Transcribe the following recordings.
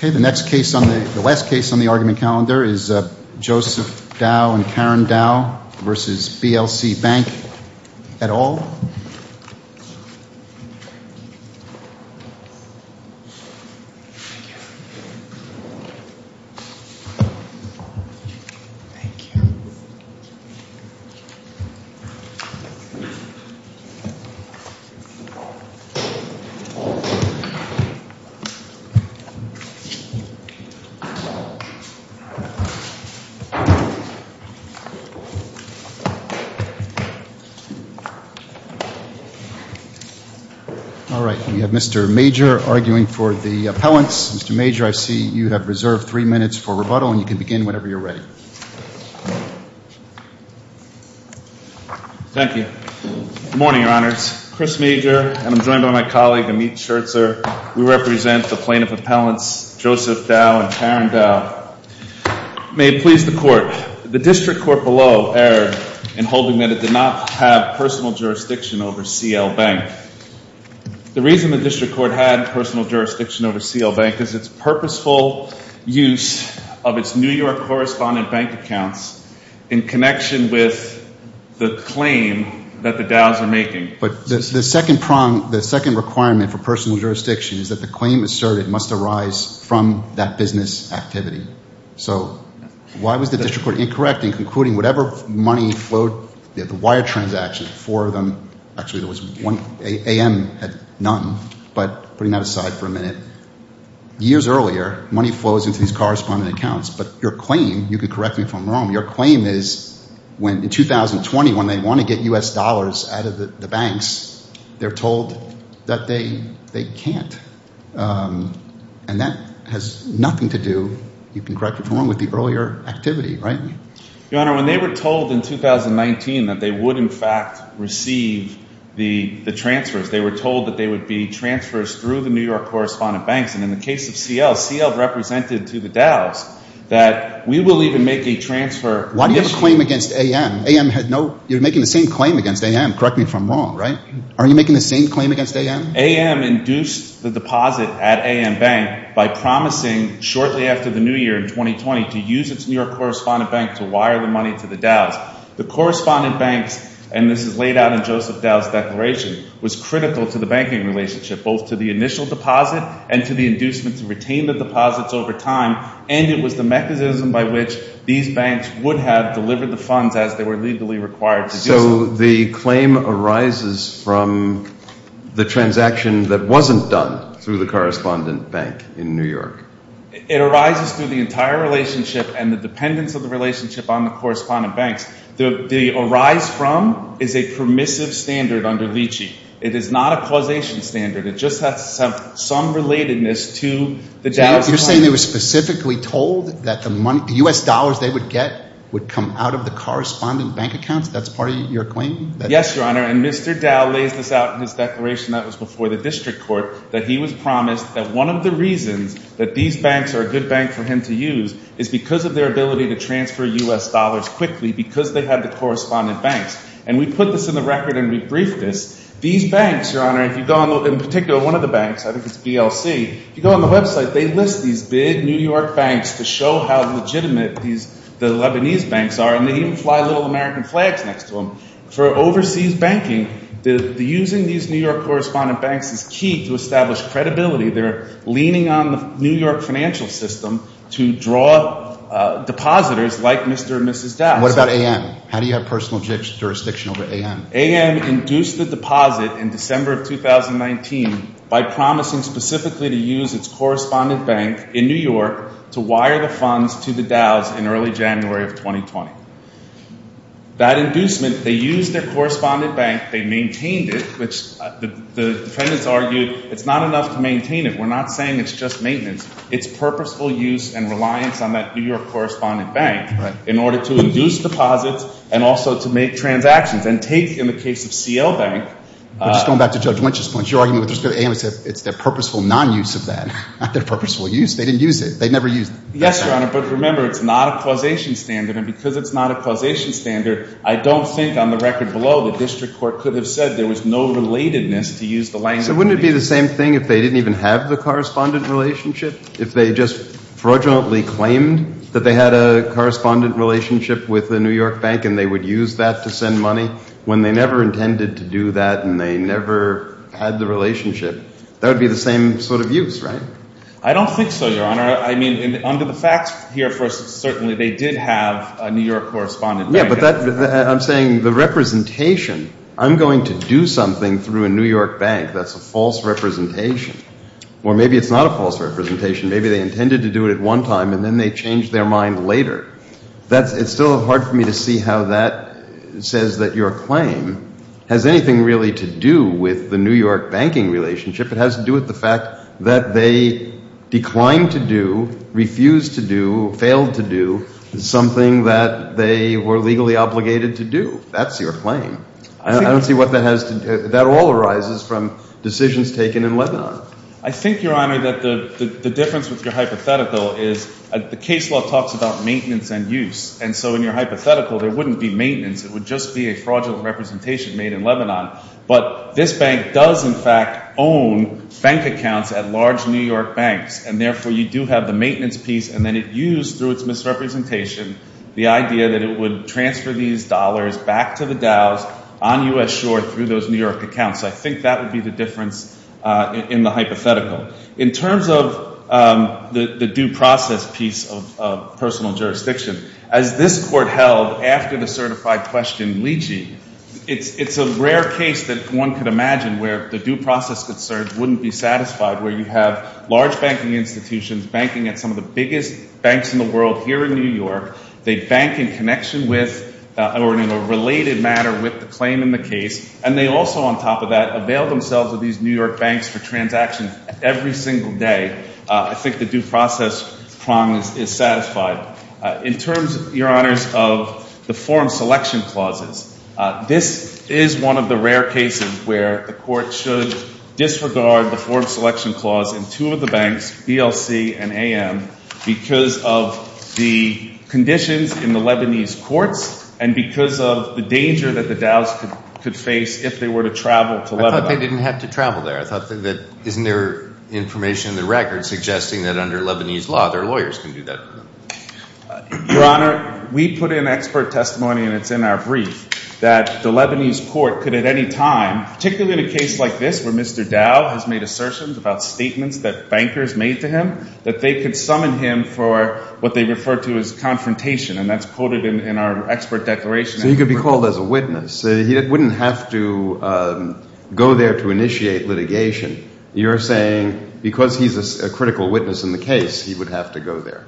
The last case on the argument calendar is Joseph Dow v. Karen Dow v. BLC Bank, S.A.L. All right, we have Mr. Major arguing for the appellants. Mr. Major, I see you have reserved three minutes for rebuttal, and you can begin whenever you're ready. Thank you. Good morning, Your Honors. Chris Major, and I'm joined by my colleague, Amit Scherzer. We represent the plaintiff appellants, Joseph Dow and Karen Dow. May it please the Court, the district court below erred in holding that it did not have personal jurisdiction over C.L. Bank. The reason the district court had personal jurisdiction over C.L. Bank is its purposeful use of its New York correspondent bank accounts in connection with the claim that the Dows are making. But the second prong, the second requirement for personal jurisdiction is that the claim asserted must arise from that business activity. So why was the district court incorrect in concluding whatever money flowed, the wire transactions, four of them, actually there was one, A.M. had none, but putting that aside for a minute. Years earlier, money flows into these correspondent accounts, but your claim, you can correct me if I'm wrong, your claim is when in 2020, when they want to get U.S. dollars out of the banks, they're told that they can't. And that has nothing to do, you can correct me if I'm wrong, with the earlier activity, right? Your Honor, when they were told in 2019 that they would in fact receive the transfers, they were told that they would be transfers through the New York correspondent banks. And in the case of C.L., C.L. represented to the Dows that we will even make a transfer issue. Why do you have a claim against A.M.? A.M. had no, you're making the same claim against A.M., correct me if I'm wrong, right? Are you making the same claim against A.M.? A.M. induced the deposit at A.M. Bank by promising shortly after the new year in 2020 to use its New York correspondent bank to wire the money to the Dows. The correspondent banks, and this is laid out in Joseph Dow's declaration, was critical to the banking relationship, both to the initial deposit and to the inducement to retain the deposits over time. And it was a mechanism by which these banks would have delivered the funds as they were legally required to do so. So the claim arises from the transaction that wasn't done through the correspondent bank in New York? It arises through the entire relationship and the dependence of the relationship on the correspondent banks. The arise from is a permissive standard under Leachy. It is not a causation standard. It just has some relatedness to the Dow's claim. You're saying they were specifically told that the U.S. dollars they would get would come out of the correspondent bank accounts? That's part of your claim? Yes, Your Honor. And Mr. Dow lays this out in his declaration that was before the district court, that he was promised that one of the reasons that these banks are a good bank for him to use is because of their ability to transfer U.S. dollars quickly because they had the correspondent banks. And we put this in the record and we briefed this. These banks, Your Honor, if you go on, in particular, one of the banks, I think it's BLC, if you go on the website, they list these big New York banks to show how legitimate the Lebanese banks are. And they even fly little American flags next to them. For overseas banking, using these New York correspondent banks is key to establish credibility. They're leaning on the New York financial system to draw depositors like Mr. and Mrs. Dow. And what about AM? How do you have personal jurisdiction over AM? AM induced the deposit in December of 2019 by promising specifically to use its correspondent bank in New York to wire the funds to the Dows in early January of 2020. That inducement, they used their correspondent bank, they maintained it, which the defendants argued it's not enough to maintain it. We're not saying it's just maintenance. It's purposeful use and reliance on that New York correspondent bank in order to induce deposits and also to make transactions. And take, in the case of C.L. Bank. But just going back to Judge Lynch's points, your argument with respect to AM is that it's their purposeful non-use of that, not their purposeful use. They didn't use it. They never used it. Yes, Your Honor. But remember, it's not a causation standard. And because it's not a causation standard, I don't think on the record below the district court could have said there was no relatedness to use the language. So wouldn't it be the same thing if they didn't even have the correspondent relationship? If they just fraudulently claimed that they had a correspondent relationship with the New York bank and they would use that to send money, when they never intended to do that and they never had the relationship, that would be the same sort of use, right? I don't think so, Your Honor. I mean, under the facts here, certainly they did have a New York correspondent bank. Yeah, but I'm saying the representation, I'm going to do something through a New York bank that's a false representation. Or maybe it's not a false representation. Maybe they intended to do it at one time and then they changed their mind later. It's still hard for me to see how that says that your claim has anything really to do with the New York banking relationship. It has to do with the fact that they declined to do, refused to do, failed to do something that they were legally obligated to do. That's your claim. I don't see what that has to do. That all arises from decisions taken in Lebanon. I think, Your Honor, that the difference with your hypothetical is the case law talks about maintenance and use. And so in your hypothetical, there wouldn't be maintenance. It would just be a fraudulent representation made in Lebanon. But this bank does, in fact, own bank accounts at large New York banks. And therefore, you do have the maintenance piece and then it used, through its misrepresentation, the idea that it would transfer these dollars back to the DAOs on U.S. shore through those New York accounts. I think that would be the difference in the hypothetical. In terms of the due process piece of personal jurisdiction, as this Court held after the certified question, Leachy, it's a rare case that one could imagine where the due process could serve wouldn't be satisfied, where you have large banking institutions banking at some of the biggest banks in the world here in New York. They bank in connection with or in a related matter with the claim in the case. And they also, on top of that, avail themselves of these New York banks for transactions every single day. I think the due process prong is satisfied. In terms, Your Honors, of the form selection clauses, this is one of the rare cases where the Court should disregard the form selection clause in two of the banks, BLC and AM, because of the conditions in the Lebanese courts and because of the danger that the DAOs could face if they were to travel to Lebanon. I thought they didn't have to travel there. I thought that, isn't there information in the records suggesting that under Lebanese law, their lawyers can do that for them? Your Honor, we put in expert testimony, and it's in our brief, that the Lebanese court could at any time, particularly in a case like this where Mr. Dow has made assertions about statements that bankers made to him, that they could summon him for what they refer to as confrontation. And that's quoted in our expert declaration. So he could be called as a witness. He wouldn't have to go there to initiate litigation. You're saying because he's a critical witness in the case, he would have to go there,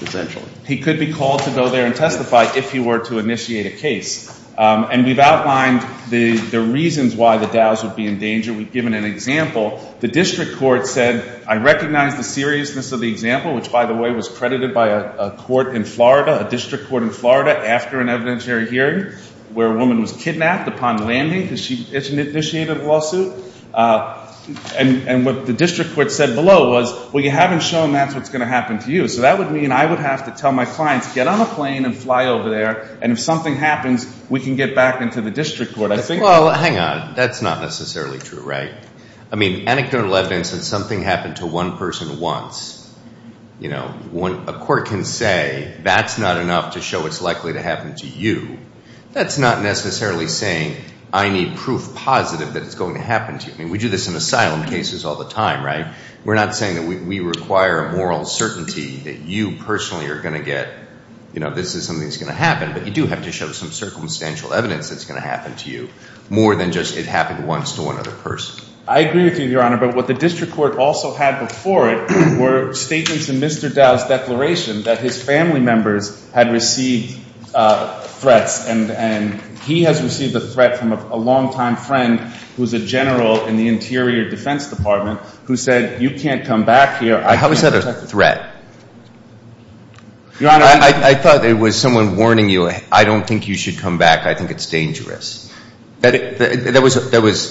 essentially. He could be called to go there and testify if he were to initiate a case. And we've outlined the reasons why the DAOs would be in danger. We've given an example. The district court said, I recognize the seriousness of the example, which, by the way, was credited by a court in Florida, a district court in Florida, after an evidentiary hearing, where a woman was kidnapped upon landing because she initiated a lawsuit. And what the district court said below was, well, you haven't shown that's what's going to happen to you. So that would mean I would have to tell my clients, get on a plane and fly over there. And if something happens, we can get back into the district court. Well, hang on. That's not necessarily true, right? I mean, anecdotal evidence that something happened to one person once, a court can say, that's not enough to show it's likely to happen to you. That's not necessarily saying, I need proof positive that it's going to happen to you. I mean, we do this in asylum cases all the time, right? We're not saying that we require moral certainty that you personally are going to get, this is something that's going to happen. But you do have to show some circumstantial evidence that's going to happen to you, more than just it happened once to one other person. I agree with you, Your Honor. But what the district court also had before it were statements in Mr. Dow's declaration that his family members had received threats. And he has received a threat from a longtime friend, who's a general in the Interior Defense Department, who said, you can't come back here. How is that a threat? Your Honor. I thought it was someone warning you, I don't think you should come back. I think it's dangerous. That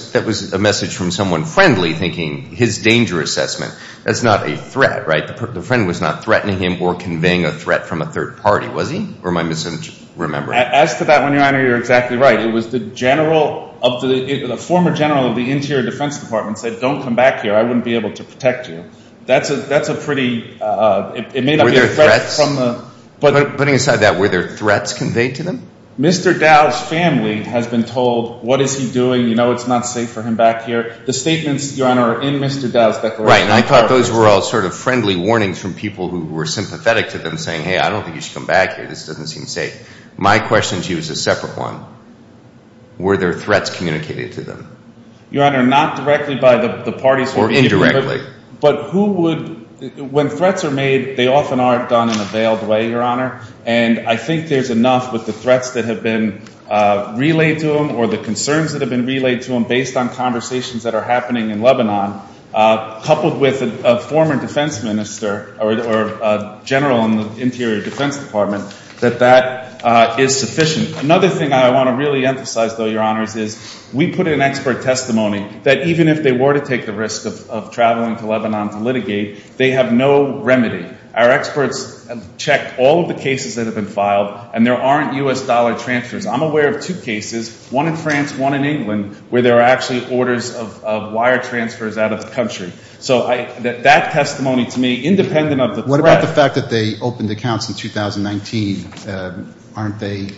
was a message from someone friendly, thinking his danger assessment, that's not a threat, right? The friend was not threatening him or conveying a threat from a third party, was he? Or am I misremembering? As to that one, Your Honor, you're exactly right. It was the former general of the Interior Defense Department said, don't come back here, I wouldn't be able to protect you. That's a pretty, it may not be a threat from the... Putting aside that, were there threats conveyed to them? Mr. Dow's family has been told, what is he doing? You know it's not safe for him back here. The statements, Your Honor, are in Mr. Dow's declaration. Right, and I thought those were all sort of friendly warnings from people who were sympathetic to them, saying, hey, I don't think you should come back here, this doesn't seem safe. My question to you is a separate one. Were there threats communicated to them? Your Honor, not directly by the parties who were communicating... Or indirectly. But who would, when threats are made, they often are done in a veiled way, Your Honor. And I think there's enough with the threats that have been relayed to them, or the concerns that have been relayed to them, based on conversations that are happening in Lebanon, coupled with a former defense minister, or general in the Interior Defense Department, that that is sufficient. Another thing I want to really emphasize, though, Your Honors, is we put in expert testimony that even if they were to take the risk of traveling to Lebanon to litigate, they have no remedy. Our experts checked all of the cases that have been filed, and there aren't U.S. dollar transfers. I'm aware of two cases, one in France, one in England, where there are actually orders of wire transfers out of the country. So that testimony to me, independent of the threat... What about the fact that they opened accounts in 2019? Aren't they,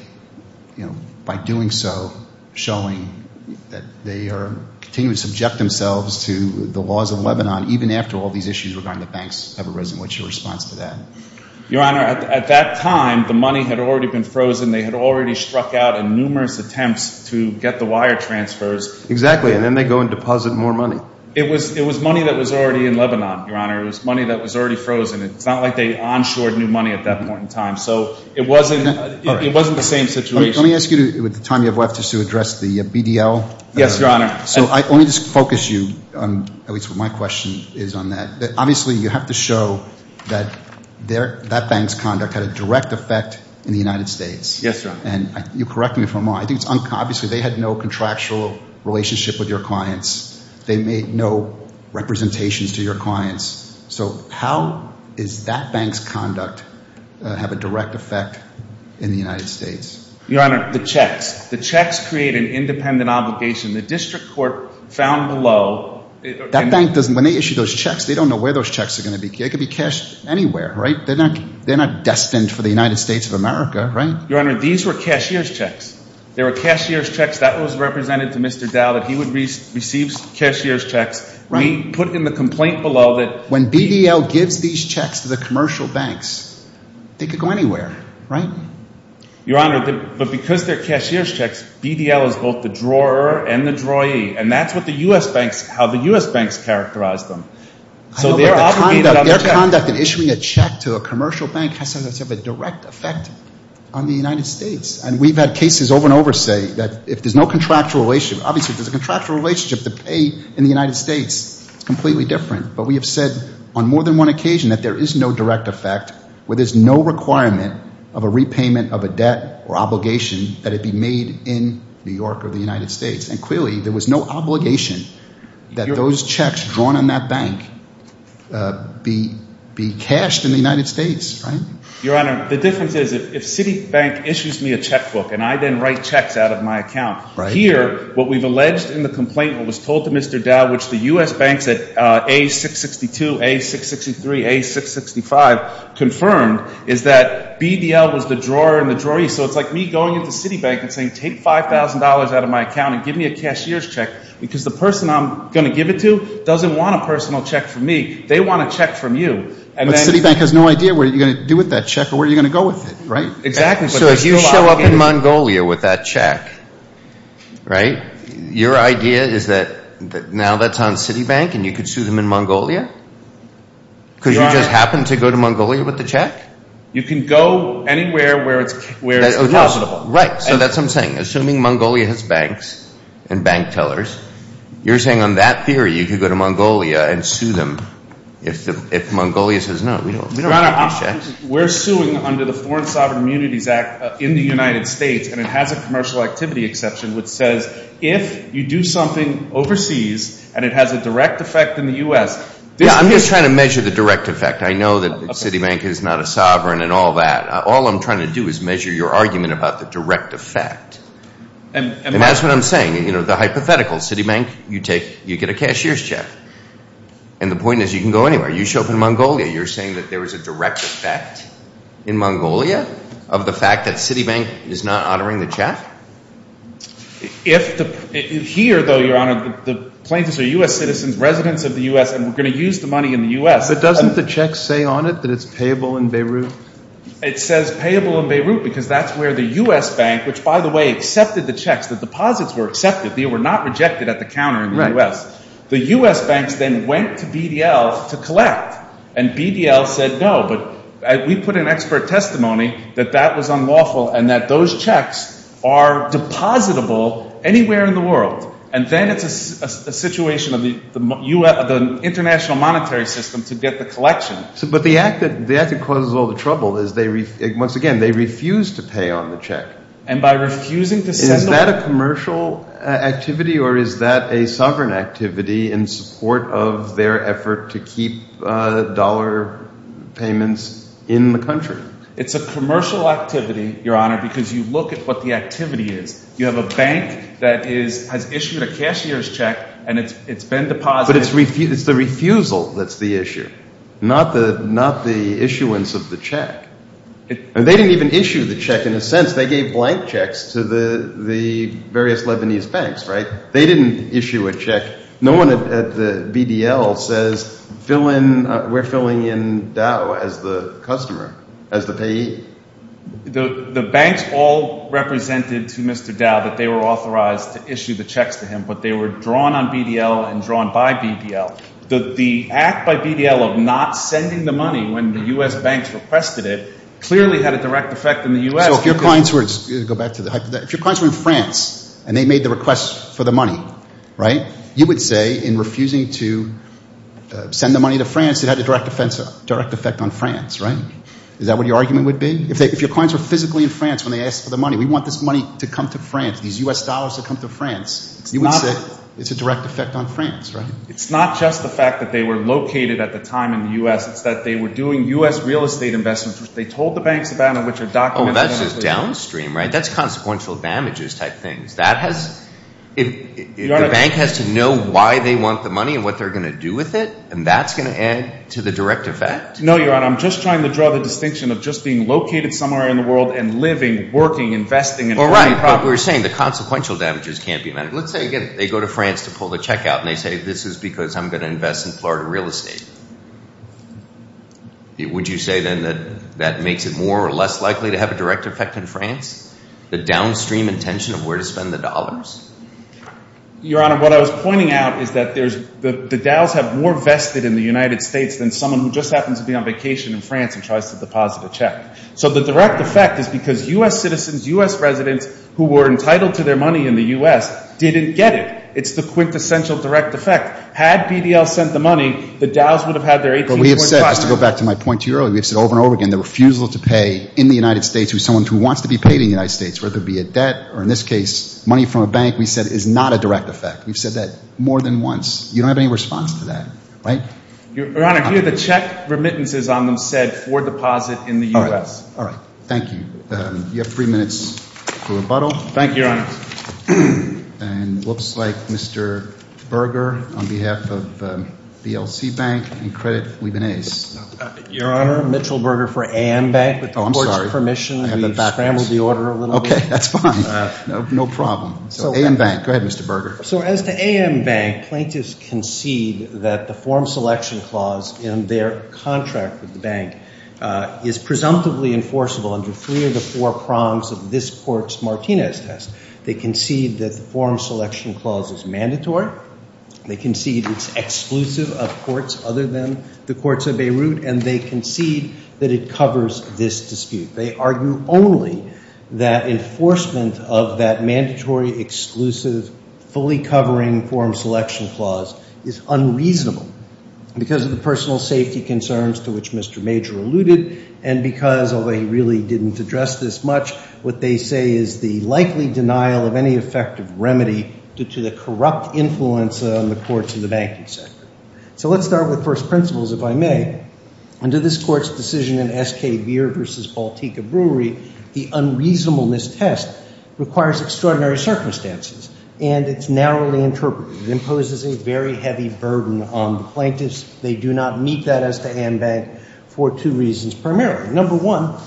by doing so, showing that they are continuing to subject themselves to the laws of Lebanon, even after all these issues regarding the banks have arisen? What's your response to that? Your Honor, at that time, the money had already been frozen. They had already struck out in numerous attempts to get the wire transfers. Exactly. And then they go and deposit more money. It was money that was already in Lebanon, Your Honor. It was money that was already frozen. It's not like they onshored new money at that point in time. So it wasn't the same situation. Let me ask you, with the time you have left, just to address the BDL. Yes, Your Honor. So let me just focus you, at least what my question is on that. Obviously, you have to show that that bank's conduct had a direct effect in the United States. Yes, Your Honor. And you correct me if I'm wrong. Obviously, they had no contractual relationship with your clients. They made no representations to your clients. So how does that bank's conduct have a direct effect in the United States? Your Honor, the checks. The checks create an independent obligation. The district court found below... That bank doesn't... When they issue those checks, they don't know where those checks are going to be. They could be cashed anywhere, right? They're not destined for the United States of America, right? Your Honor, these were cashier's checks. They were cashier's checks. That was represented to Mr. Dow that he would receive cashier's checks. We put in the complaint below that... When BDL gives these checks to the commercial banks, they could go anywhere, right? Your Honor, but because they're cashier's checks, BDL is both the drawer and the droyee. And that's what the U.S. banks... How the U.S. banks characterize them. So they're obligated on the checks. Their conduct in issuing a check to a commercial bank has to have a direct effect on the United States. And we've had cases over and over say that if there's no contractual relationship... Obviously, if there's a contractual relationship, the pay in the United States is completely different. But we have said on more than one occasion that there is no direct effect, where repayment of a debt or obligation that it be made in New York or the United States. And clearly, there was no obligation that those checks drawn on that bank be cashed in the United States, right? Your Honor, the difference is if Citibank issues me a checkbook and I then write checks out of my account. Here, what we've alleged in the complaint, what was told to Mr. Dow, which the U.S. banks at A662, A663, A665 confirmed, is that BDL was the drawer and the droyee. So it's like me going into Citibank and saying, take $5,000 out of my account and give me a cashier's check. Because the person I'm going to give it to doesn't want a personal check from me. They want a check from you. But Citibank has no idea what you're going to do with that check or where you're going to go with it, right? Exactly. So if you show up in Mongolia with that check, right, your idea is that now that's on Citibank and you could sue them in Mongolia? Your Honor. Because you just happened to go to Mongolia with the check? You can go anywhere where it's possible. Right. So that's what I'm saying. Assuming Mongolia has banks and bank tellers, you're saying on that theory, you could go to Mongolia and sue them if Mongolia says, no, we don't want these checks? We're suing under the Foreign Sovereign Immunities Act in the United States and it has a commercial activity exception which says if you do something overseas and it has a direct effect in the U.S. Yeah, I'm just trying to measure the direct effect. I know that Citibank is not a sovereign and all that. All I'm trying to do is measure your argument about the direct effect. And that's what I'm saying. You know, the hypothetical. Citibank, you take, you get a cashier's check. And the point is you can go anywhere. You show up in Mongolia, you're saying that there is a direct effect in Mongolia of the fact that Citibank is not honoring the check? If the, here though, Your Honor, the plaintiffs are U.S. citizens, residents of the U.S. and we're going to use the money in the U.S. But doesn't the check say on it that it's payable in Beirut? It says payable in Beirut because that's where the U.S. bank, which by the way, accepted the checks, the deposits were accepted. They were not rejected at the counter in the U.S. The U.S. banks then went to BDL to collect. And BDL said no. But we put an expert testimony that that was unlawful and that those checks are depositable anywhere in the world. And then it's a situation of the U.S., the international monetary system to get the collection. But the act that causes all the trouble is they, once again, they refuse to pay on the check. And by refusing to send the... Is that a commercial activity or is that a sovereign activity in support of their effort to keep dollar payments in the country? It's a commercial activity, Your Honor, because you look at what the activity is. You have a bank that is, has issued a cashier's check and it's been deposited... But it's the refusal that's the issue, not the issuance of the check. They didn't even issue a check. No one at the BDL says, we're filling in Dow as the customer, as the payee. The banks all represented to Mr. Dow that they were authorized to issue the checks to him, but they were drawn on BDL and drawn by BDL. The act by BDL of not sending the money when the U.S. banks requested it clearly had a direct effect in the U.S. So if your clients were in France and they made the request for the money, right, you would say in refusing to send the money to France, it had a direct effect on France, right? Is that what your argument would be? If your clients were physically in France when they asked for the money, we want this money to come to France, these U.S. dollars to come to France, you would say it's a direct effect on France, right? It's not just the fact that they were located at the time in the U.S., it's that they were doing U.S. real estate investments. They told the banks about it, which are documented... Oh, that's just downstream, right? That's consequential damages type things. That has... Your Honor... If the bank has to know why they want the money and what they're going to do with it, and that's going to add to the direct effect? No, Your Honor. I'm just trying to draw the distinction of just being located somewhere in the world and living, working, investing and owning property. All right. But we're saying the consequential damages can't be medical. Let's say, again, they go to France to pull the check out and they say, this is because I'm going to invest in Florida real estate. Would you say then that that makes it more or less likely to have a direct effect in France? The downstream intention of where to spend the dollars? Your Honor, what I was pointing out is that the DOWs have more vested in the United States than someone who just happens to be on vacation in France and tries to deposit a check. So the direct effect is because U.S. citizens, U.S. residents who were entitled to their money in the U.S. didn't get it. It's the quintessential direct effect. Had BDL sent the money, the DOWs would have had their 18 point... But we have said, just to go back to my point to you earlier, we've said over and over again, the refusal to pay in the United States with someone who wants to be paid in the United States, whether it be a debt or, in this case, money from a bank, we've said, is not a direct effect. We've said that more than once. You don't have any response to that, right? Your Honor, here, the check remittances on them said for deposit in the U.S. All right. Thank you. You have three minutes for rebuttal. Thank you, Your Honor. And looks like Mr. Berger, on behalf of the ELC Bank and Credit Libanese. Your Honor, Mitchell Berger for AM Bank. Oh, I'm sorry. With the Board's permission, we scrambled the order a little bit. Okay, that's fine. No problem. AM Bank. Go ahead, Mr. Berger. So as to AM Bank, plaintiffs concede that the form selection clause in their contract with the bank is presumptively enforceable under three of the four prongs of this court's Martinez test. They concede that the form selection clause is mandatory. They concede it's exclusive of courts other than the courts of Beirut. And they concede that it covers this dispute. They argue only that enforcement of that mandatory, exclusive, fully covering form selection clause is unreasonable because of the personal safety concerns to which Mr. Major alluded and because, although he really didn't address this much, what they say is the likely denial of any effective remedy due to the corrupt influence on the courts and the banking sector. So let's start with first principles, if I may. Under this court's decision in S.K. Beer v. Baltica Brewery, the unreasonableness test requires extraordinary circumstances and it's narrowly interpreted. It imposes a very heavy burden on the plaintiffs. They do not meet that as to AM Bank for two reasons, primarily. Number one,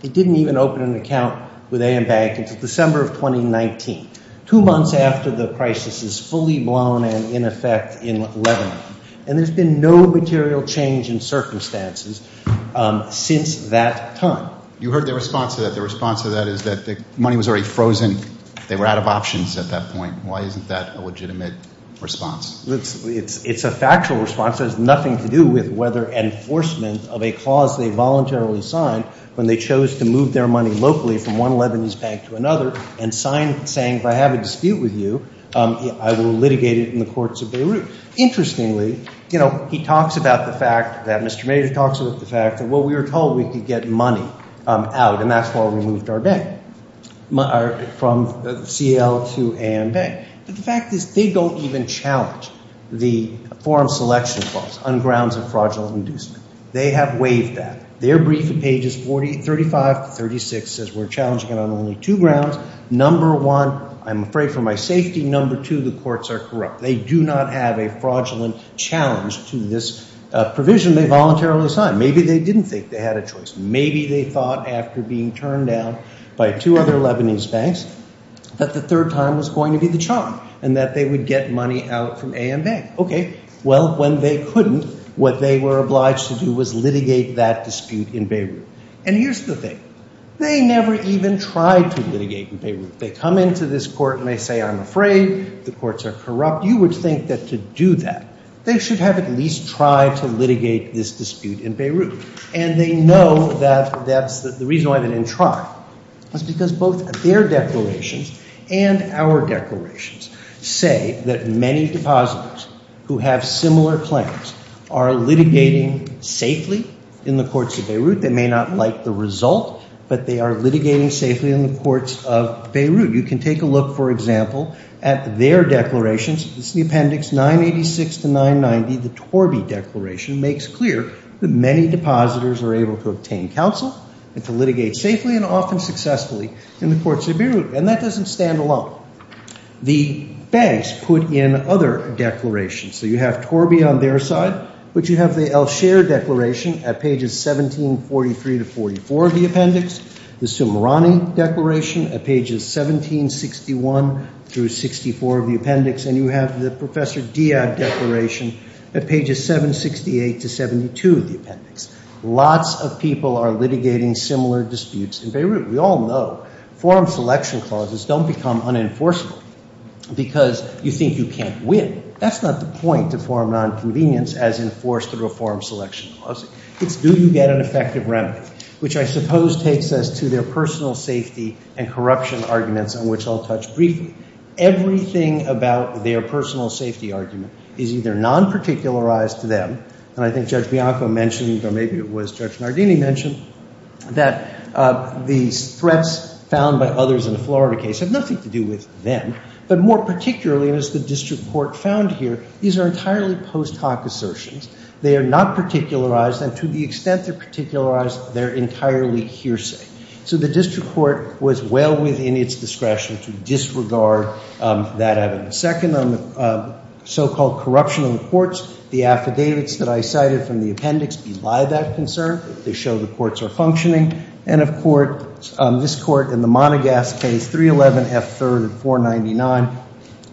they didn't even open an account with AM Bank until December of 2019, two months after the crisis is fully blown and in effect in Lebanon. And there's been no material change in circumstances since that time. You heard their response to that. Their response to that is that the money was already frozen. They were out of options at that point. Why isn't that a legitimate response? It's a factual response. It has nothing to do with whether enforcement of a clause they voluntarily signed when they chose to move their money locally from one Lebanese bank to another and saying, if I have a dispute with you, I will litigate it in the courts of Beirut. Interestingly, you know, he talks about the fact that Mr. Major talks about the fact that, well, we were told we could get money out and that's why we moved our bank from C.L. to AM Bank. But the fact is they don't even challenge the forum selection clause on grounds of fraudulent inducement. They have waived that. Their brief in pages 35 to 36 says we're challenging it on only two grounds. Number one, I'm afraid for my safety. Number two, the courts are corrupt. They do not have a fraudulent challenge to this provision they voluntarily signed. Maybe they didn't think they had a choice. Maybe they thought after being turned down by two other Lebanese banks that the third time was going to be the charm and that they would get money out from AM Bank. Okay. Well, when they couldn't, what they were obliged to do was litigate that dispute in Beirut. And here's the thing. They never even tried to litigate in Beirut. They come into this court and they say, I'm afraid. The courts are corrupt. You would think that to do that, they should have at least tried to litigate this dispute in Beirut. And they know that that's the reason why they didn't try. It's because both their declarations and our declarations say that many depositors who have similar claims are litigating safely in the courts of Beirut. They may not like the result, but they are litigating safely in the courts of Beirut. You can take a look, for example, at their declarations. It's the Appendix 986 to 990, the Torby Declaration, makes clear that many depositors are able to obtain counsel and to litigate safely and often successfully in the courts of Beirut. And that doesn't stand alone. The banks put in other declarations. So you have Torby on their side, but you have the El Sher Declaration at pages 1743 to 44 of the Appendix, the Sumerani Declaration at pages 1761 through 64 of the Appendix, and you have the Professor Diab Declaration at pages 768 to 72 of the Appendix. Lots of people are litigating similar disputes in the courts of Beirut, but they don't become unenforceable because you think you can't win. That's not the point of forum nonconvenience as enforced through a forum selection clause. It's do you get an effective remedy, which I suppose takes us to their personal safety and corruption arguments, on which I'll touch briefly. Everything about their personal safety argument is either non-particularized to them, and I think Judge Bianco mentioned, or maybe it was Judge Nardini mentioned, that these threats found by others in the Florida case have nothing to do with them, but more particularly, as the district court found here, these are entirely post hoc assertions. They are not particularized, and to the extent they're particularized, they're entirely hearsay. So the district court was well within its discretion to disregard that evidence. Second, on the so-called corruption of the courts, the affidavits that I cited from the Appendix belie that concern. They show the courts are F-3rd and 499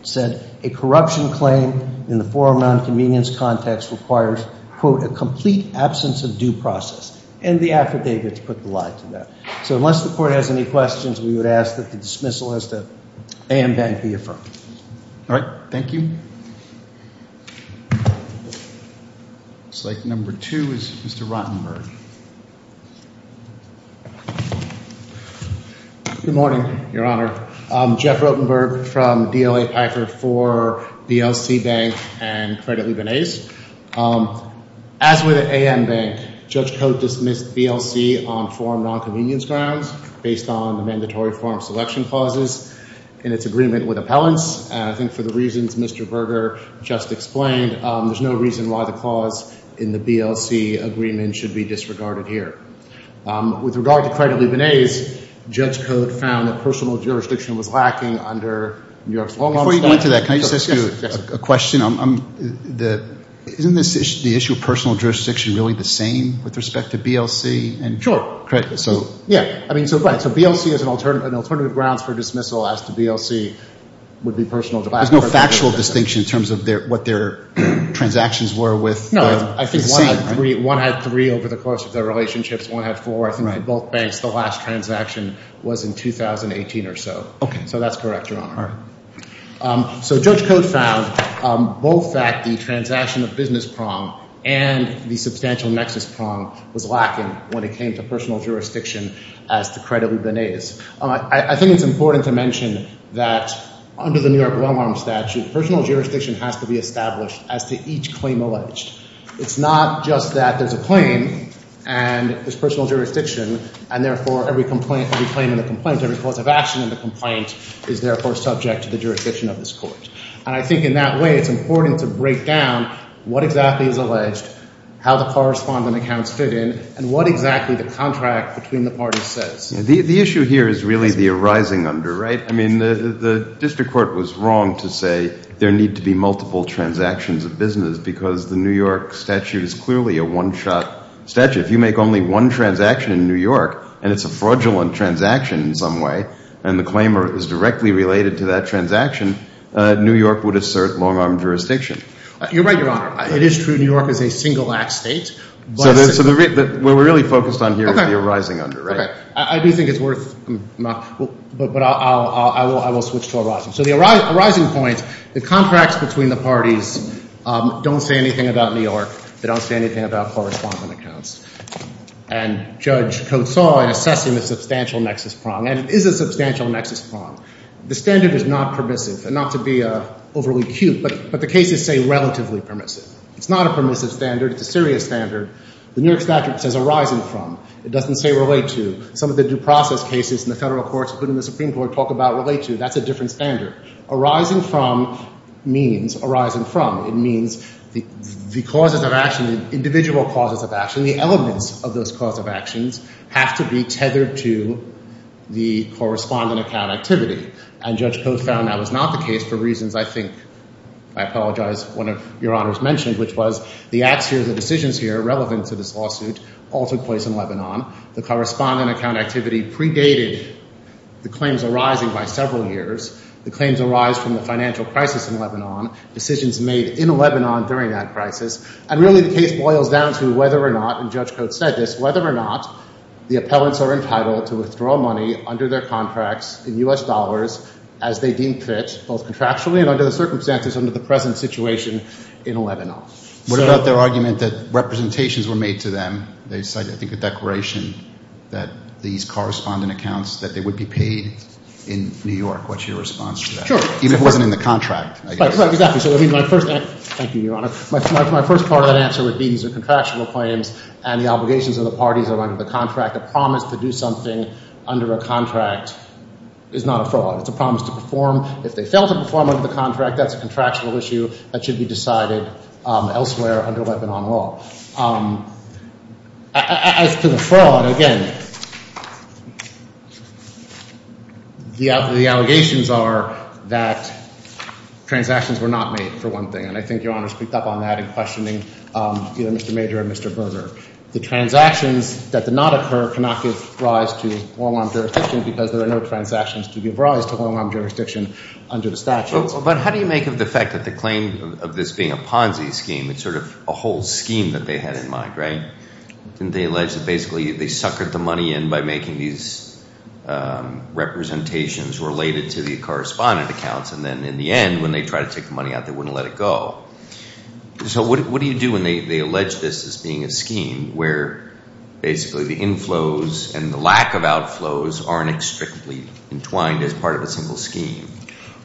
said a corruption claim in the forum nonconvenience context requires, quote, a complete absence of due process, and the affidavits put the lie to that. So unless the court has any questions, we would ask that the dismissal as to A.M. Bank be affirmed. All right. Thank you. Looks like number two is Mr. Rottenberg. Good morning, Your Honor. Jeff Rottenberg from DLA Pfeiffer for BLC Bank and Credit Libanese. As with A.M. Bank, Judge Cote dismissed BLC on forum nonconvenience grounds based on the mandatory forum selection clauses in its agreement with appellants. I think for the reasons Mr. Berger just explained, there's no reason why the clause in the BLC agreement should be disregarded here. With regard to Credit Libanese, Judge Cote found that personal jurisdiction was lacking under New York's long-form selection. Before you get into that, can I just ask you a question? Isn't the issue of personal jurisdiction really the same with respect to BLC? Sure. So BLC is an alternative grounds for dismissal as to BLC would be personal jurisdiction. There's no factual distinction in terms of what their transactions were with I think one had three over the course of their relationships, one had four. I think at both banks the last transaction was in 2018 or so. Okay. So that's correct, Your Honor. All right. So Judge Cote found both that the transaction of business prong and the substantial nexus prong was lacking when it came to personal jurisdiction as to Credit Libanese. I think it's important to mention that under the New York well-armed statute, personal jurisdiction has to be established as to it's not just that there's a claim and there's personal jurisdiction and therefore every complaint, every claim in the complaint, every cause of action in the complaint is therefore subject to the jurisdiction of this court. And I think in that way it's important to break down what exactly is alleged, how the correspondent accounts fit in, and what exactly the contract between the parties says. The issue here is really the arising under, right? I mean the district court was wrong to say there need to be multiple transactions of business because the New York statute is clearly a one-shot statute. If you make only one transaction in New York and it's a fraudulent transaction in some way and the claim is directly related to that transaction, New York would assert long-arm jurisdiction. You're right, Your Honor. It is true New York is a single-act state. So what we're really focused on here is the arising under, right? I do think it's worth, but I will switch to arising. So the arising point, the contracts between the parties don't say anything about New York. They don't say anything about correspondent accounts. And Judge Coates saw and assessed him a substantial nexus prong, and it is a substantial nexus prong. The standard is not permissive, and not to be overly cute, but the cases say relatively permissive. It's not a permissive standard. It's a serious standard. The New York statute says arising from. It doesn't say relate to. Some of the due process cases in the federal courts, including the Supreme Court, talk about relate to. That's a means arising from. It means the causes of action, the individual causes of action, the elements of those cause of actions have to be tethered to the correspondent account activity. And Judge Coates found that was not the case for reasons I think, I apologize, one of Your Honor's mentioned, which was the acts here, the decisions here relevant to this lawsuit all took place in Lebanon. The correspondent account activity predated the claims arising by several years. The claims arise from the financial crisis in Lebanon, decisions made in Lebanon during that crisis, and really the case boils down to whether or not, and Judge Coates said this, whether or not the appellants are entitled to withdraw money under their contracts in U.S. dollars as they deem fit, both contractually and under the circumstances under the present situation in Lebanon. What about their argument that representations were made to them? They cited I think a declaration that these correspondent accounts that they would be paid in New York. What's your response to that? Sure. Even if it wasn't in the contract, I guess. Right, exactly. So I mean my first, thank you, Your Honor. My first part of that answer would be these are contractual claims and the obligations of the parties that are under the contract. A promise to do something under a contract is not a fraud. It's a promise to perform. If they fail to perform under the contract, that's a contractual issue that should be decided elsewhere under Lebanon law. As to the fraud, again, the allegations are that transactions were not made, for one thing, and I think Your Honor speaked up on that in questioning Mr. Major and Mr. Berger. The transactions that did not occur cannot give rise to long-arm jurisdiction because there are no transactions to give rise to long-arm jurisdiction under the statute. But how do you make of the fact that the claim of this being a Ponzi scheme, it's sort of a whole scheme that they had in mind, right? Didn't they allege that basically they suckered the money in by making these representations related to the correspondent accounts and then in the end when they tried to take the money out, they wouldn't let it go. So what do you do when they allege this as being a scheme where basically the inflows and the lack of outflows aren't strictly entwined as part of a scheme,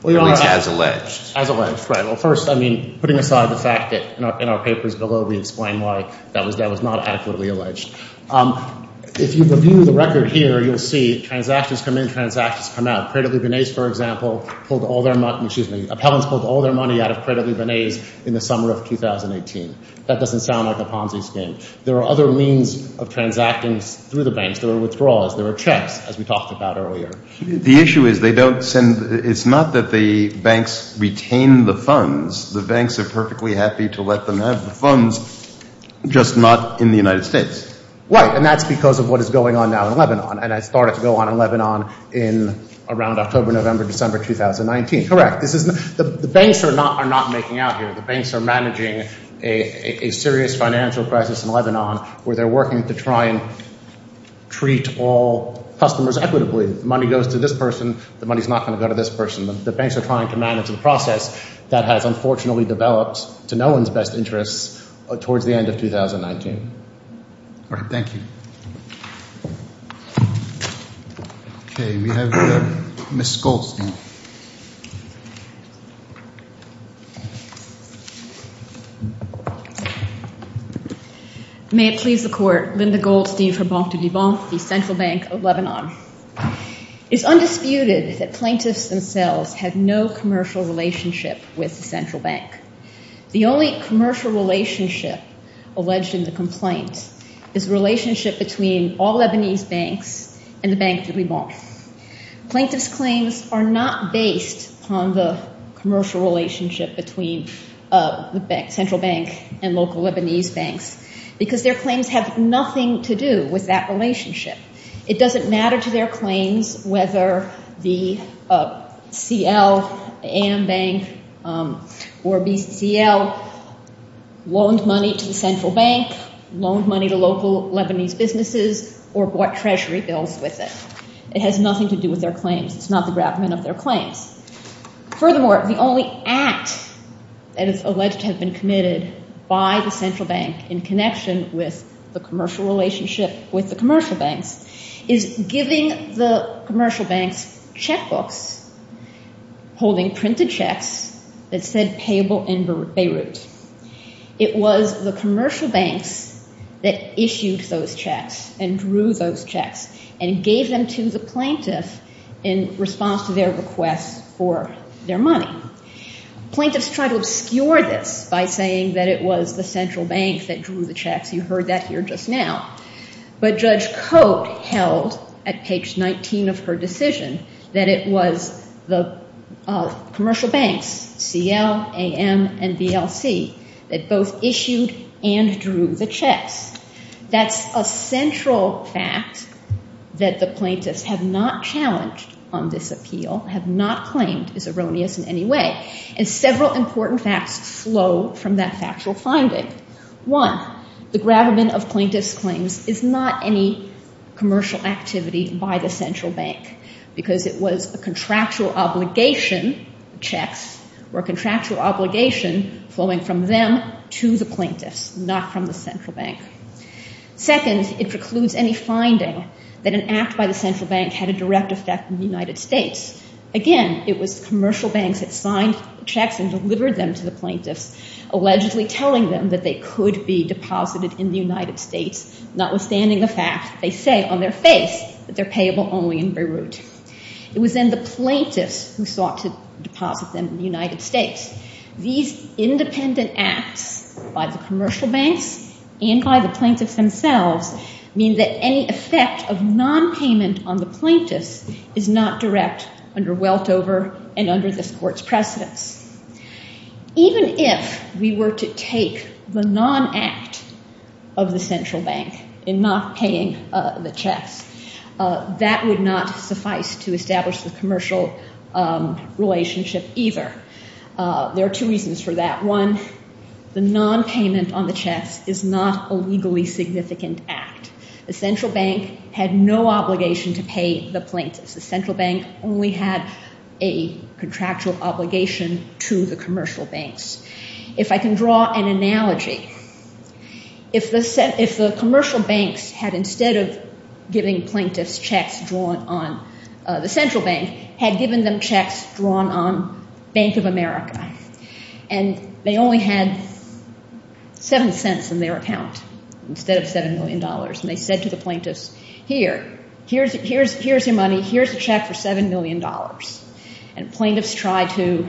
at least as alleged? As alleged, right. Well, first, I mean, putting aside the fact that in our papers below, we explain why that was not adequately alleged. If you review the record here, you'll see transactions come in, transactions come out. Credit Libanese, for example, pulled all their money, excuse me, appellants pulled all their money out of Credit Libanese in the summer of 2018. That doesn't sound like a Ponzi scheme. There are other means of transacting through the banks. There are checks, as we talked about earlier. The issue is they don't send, it's not that the banks retain the funds. The banks are perfectly happy to let them have the funds, just not in the United States. Right. And that's because of what is going on now in Lebanon. And it started to go on in Lebanon in around October, November, December 2019. Correct. The banks are not making out here. The banks are managing a serious financial crisis in Lebanon where they're working to try and treat all customers equitably. Money goes to this person. The money is not going to go to this person. The banks are trying to manage the process that has unfortunately developed to no one's best interests towards the end of 2019. All right. Thank you. Okay. We have Ms. Schultz now. May it please the court. Linda Goldstein for Banque du Liban, the central bank of Lebanon. It's undisputed that plaintiffs themselves have no commercial relationship with the central bank. The only commercial relationship alleged in the complaint is relationship between all Lebanese banks and the Banque du Liban. Plaintiffs' claims are not based on the commercial relationship between the central bank and local Lebanese banks because their claims have nothing to do with that relationship. It doesn't matter to their claims whether the CL, AM bank or BCL loaned money to the central bank, loaned money to local Lebanese businesses or bought treasury bills with it. It has nothing to do with their claims. It's not the gravamen of their claims. Furthermore, the only act that is alleged to have been committed by the central bank in connection with the commercial relationship with the commercial banks is giving the commercial banks checkbooks holding printed checks that said payable in Beirut. It was the commercial banks that issued those checks and drew those checks and gave them to the plaintiff in response to their requests for their money. Plaintiffs try to obscure this by saying that it was the central bank that drew the checks. You heard that here just now. But Judge Cote held at page 19 of her decision that it was the commercial banks, CL, AM and BLC, that both issued and drew the checks. That's a central fact that the plaintiffs have not challenged on this appeal, have not claimed it's erroneous in any way. And several important facts flow from that factual finding. One, the gravamen of plaintiffs' claims is not any commercial activity by the central bank because it was a contractual obligation. Checks were a contractual obligation flowing from them to the plaintiffs, not from the central bank. Second, it precludes any finding that an act by the central bank had a direct effect in the United States. Again, it was commercial banks that signed checks and delivered them to the plaintiffs, allegedly telling them that they could be deposited in the United States, notwithstanding the fact they say on their face that they're payable only in Beirut. It was then the plaintiffs who sought to deposit them in the United States. These independent acts by the commercial banks and by the plaintiffs themselves mean that any effect of non-payment on the plaintiffs is not direct under Weltover and under this court's precedence. Even if we were to take the non-act of the central bank in not paying the checks, that would not suffice to establish the commercial relationship either. There are two reasons for that. One, the non-payment on the checks is not a legally significant act. The central bank had no obligation to pay the plaintiffs. The central bank only had a contractual obligation to the commercial banks. If I can draw an analogy, if the commercial banks had instead of giving plaintiffs checks drawn on the central bank, had given them checks drawn on Bank of America and they only had 7 cents in their account instead of $7 million and they said to the plaintiffs, here, here's your money, here's a check for $7 million. And plaintiffs tried to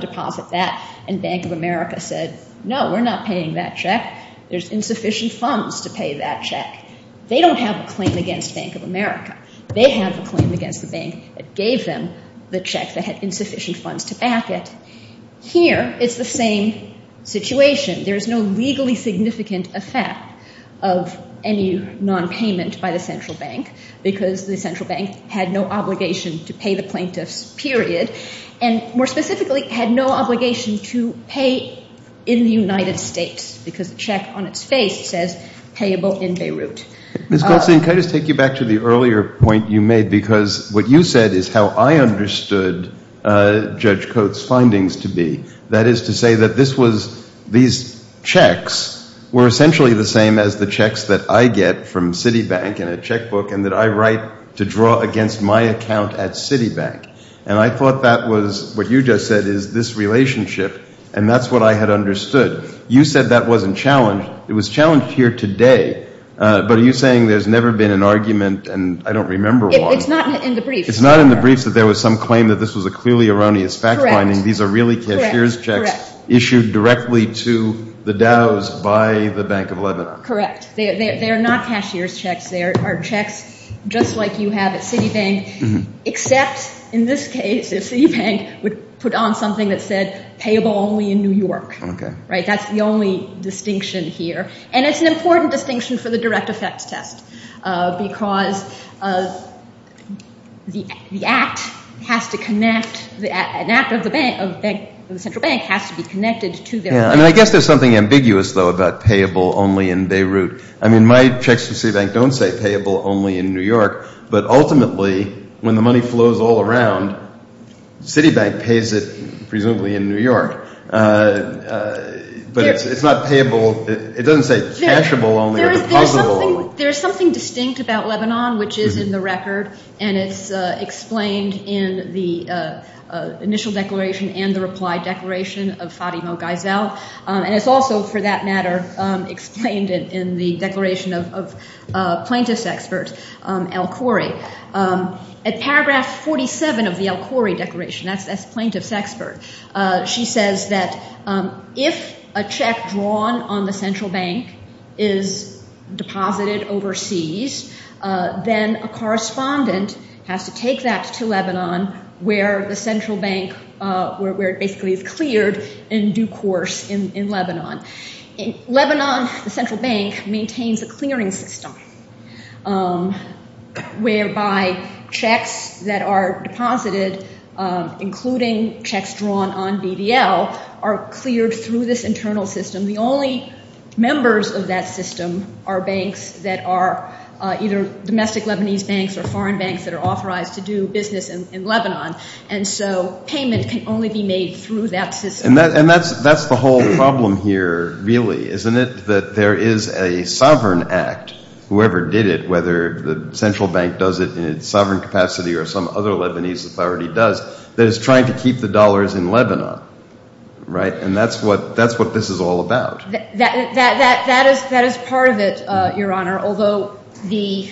deposit that and Bank of America said, no, we're not paying that check. There's insufficient funds to pay that check. They don't have a claim against Bank of America. They have a claim against the bank that gave them the check that had insufficient funds to back it. Here, it's the same situation. There's no legally significant effect of any non-payment by the central bank because the central bank had no obligation to pay the plaintiffs, period. And more specifically, had no obligation to pay in the United States because the check on its face says payable in how I understood Judge Coates' findings to be. That is to say that this was, these checks were essentially the same as the checks that I get from Citibank in a checkbook and that I write to draw against my account at Citibank. And I thought that was what you just said is this relationship and that's what I had understood. You said that wasn't challenged. It was challenged here today. But are you saying there's never been an argument and I don't remember one? It's not in the briefs that there was some claim that this was a clearly erroneous fact finding. These are really cashier's checks issued directly to the Dows by the Bank of Lebanon. Correct. They are not cashier's checks. They are checks just like you have at Citibank except in this case if Citibank would put on something that said payable only in New York. That's the only distinction here. And it's an important distinction for the direct effect test because the act has to connect, an act of the bank, of the central bank has to be connected to their... Yeah, I mean I guess there's something ambiguous though about payable only in Beirut. I mean my checks for Citibank don't say payable only in New York, but ultimately when the money flows all around, Citibank pays it presumably in New York. But it's not payable, it doesn't say cashable only or depositable only. There's something distinct about Lebanon which is in the record and it's explained in the initial declaration and the reply declaration of Fadimo Geisel and it's also for that matter explained in the declaration of plaintiff's expert, El Khoury. At paragraph 47 of the El Khoury declaration, that's plaintiff's expert, she says that if a check drawn on the central bank is deposited overseas, then a correspondent has to take that to Lebanon where the central bank, where it basically is cleared in due course in Lebanon. In Lebanon, the central bank maintains a clearing system whereby checks that are deposited, including checks drawn on BDL, are cleared through this internal system. The only members of that system are banks that are either domestic Lebanese banks or foreign banks that are authorized to do business in Lebanon. And so payment can only be made through that system. And that's the whole problem here really, isn't it? That there is a sovereign act, whoever did it, whether the central bank does it in its sovereign capacity or some other Lebanese authority does, that is trying to keep the dollars in Lebanon. And that's what this is all about. That is part of it, Your Honor, although the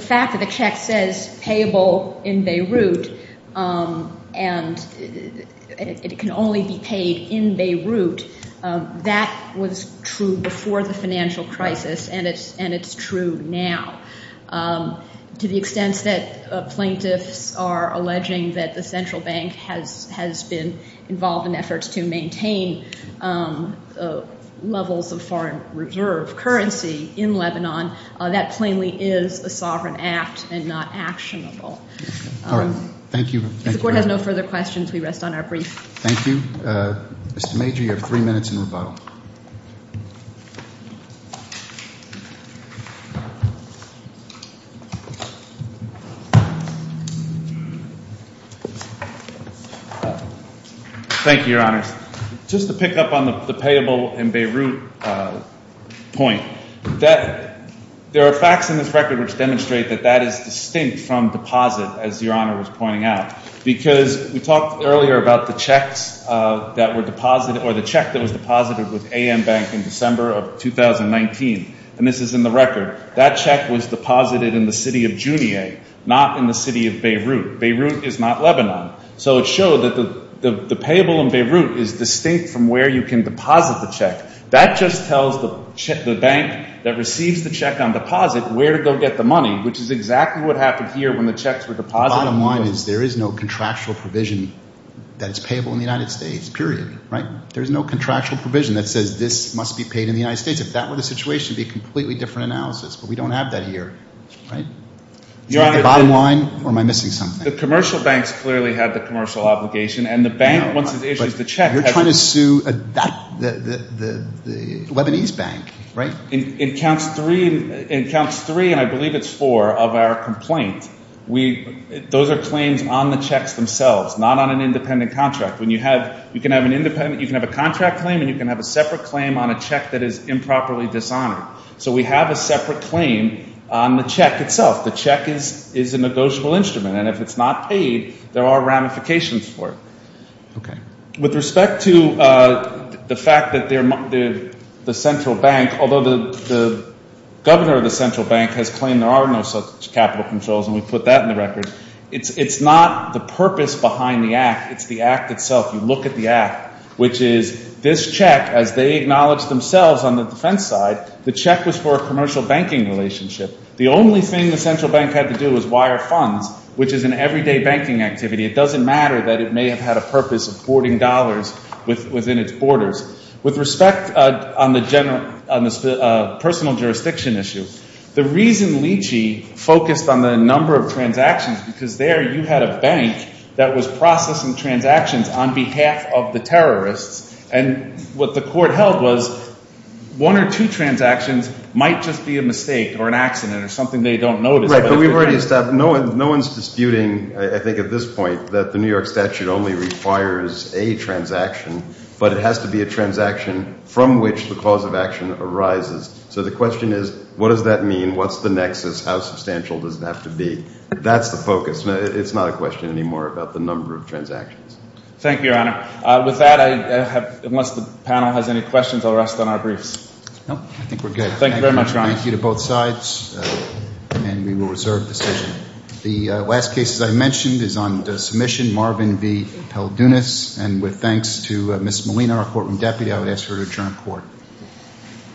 fact that the check says payable in Beirut and it can only be paid in Beirut, that was true before the financial crisis and it's true now. To the extent that plaintiffs are alleging that the central bank has been involved in efforts to maintain levels of foreign reserve currency in Lebanon, that plainly is a sovereign act and not actionable. All right. Thank you. If the Court has no further questions, we rest on our brief. Thank you. Mr. Major, you have three minutes in rebuttal. Thank you, Your Honors. Just to pick up on the payable in Beirut point, there are facts in this record which demonstrate that that is distinct from deposit, as Your Honor was pointing out, because we talked earlier about the checks that were deposited or the check that was deposited with AM Bank in December of 2019. And this is in the record. That check was deposited in the city of Junier, not in the city of Beirut. Beirut is not Lebanon. So it showed that the payable in Beirut is distinct from where you can deposit the check. That just tells the bank that receives the check on deposit where to go get the money, which is exactly what happened here when the checks were deposited. Bottom line is there is no contractual provision that it's payable in the United States, period, right? There's no contractual provision that says this must be paid in the United States. If that were the situation, it would be a completely different record, right? Is that the bottom line, or am I missing something? The commercial banks clearly had the commercial obligation, and the bank, once it issues the check... You're trying to sue the Lebanese bank, right? It counts three, and I believe it's four, of our complaint. Those are claims on the checks themselves, not on an independent contract. You can have a contract claim, and you can have a separate claim on a check that is improperly dishonored. So we have a contract on the check itself. The check is a negotiable instrument, and if it's not paid, there are ramifications for it. With respect to the fact that the central bank, although the governor of the central bank has claimed there are no such capital controls, and we put that in the record, it's not the purpose behind the act. It's the act itself. You look at the act, which is this check, as they acknowledge themselves on the defense side, the check was a commercial banking relationship. The only thing the central bank had to do was wire funds, which is an everyday banking activity. It doesn't matter that it may have had a purpose of hoarding dollars within its borders. With respect on the personal jurisdiction issue, the reason Lychee focused on the number of transactions, because there you had a bank that was processing transactions on behalf of the terrorists, and what the court held was one or two transactions might just be a mistake or an accident or something they don't notice. Right, but we've already established, no one's disputing, I think at this point, that the New York statute only requires a transaction, but it has to be a transaction from which the cause of action arises. So the question is, what does that mean? What's the nexus? How substantial does it have to be? That's the focus. It's not a question anymore about the number of transactions. Thank you, Your Honor. With that, unless the panel has any questions, I'll rest on our briefs. I think we're good. Thank you very much, Your Honor. Thank you to both sides, and we will reserve decision. The last case, as I mentioned, is on submission, Marvin V. Peldunas, and with thanks to Ms. Molina, our courtroom deputy, I would ask her to adjourn court.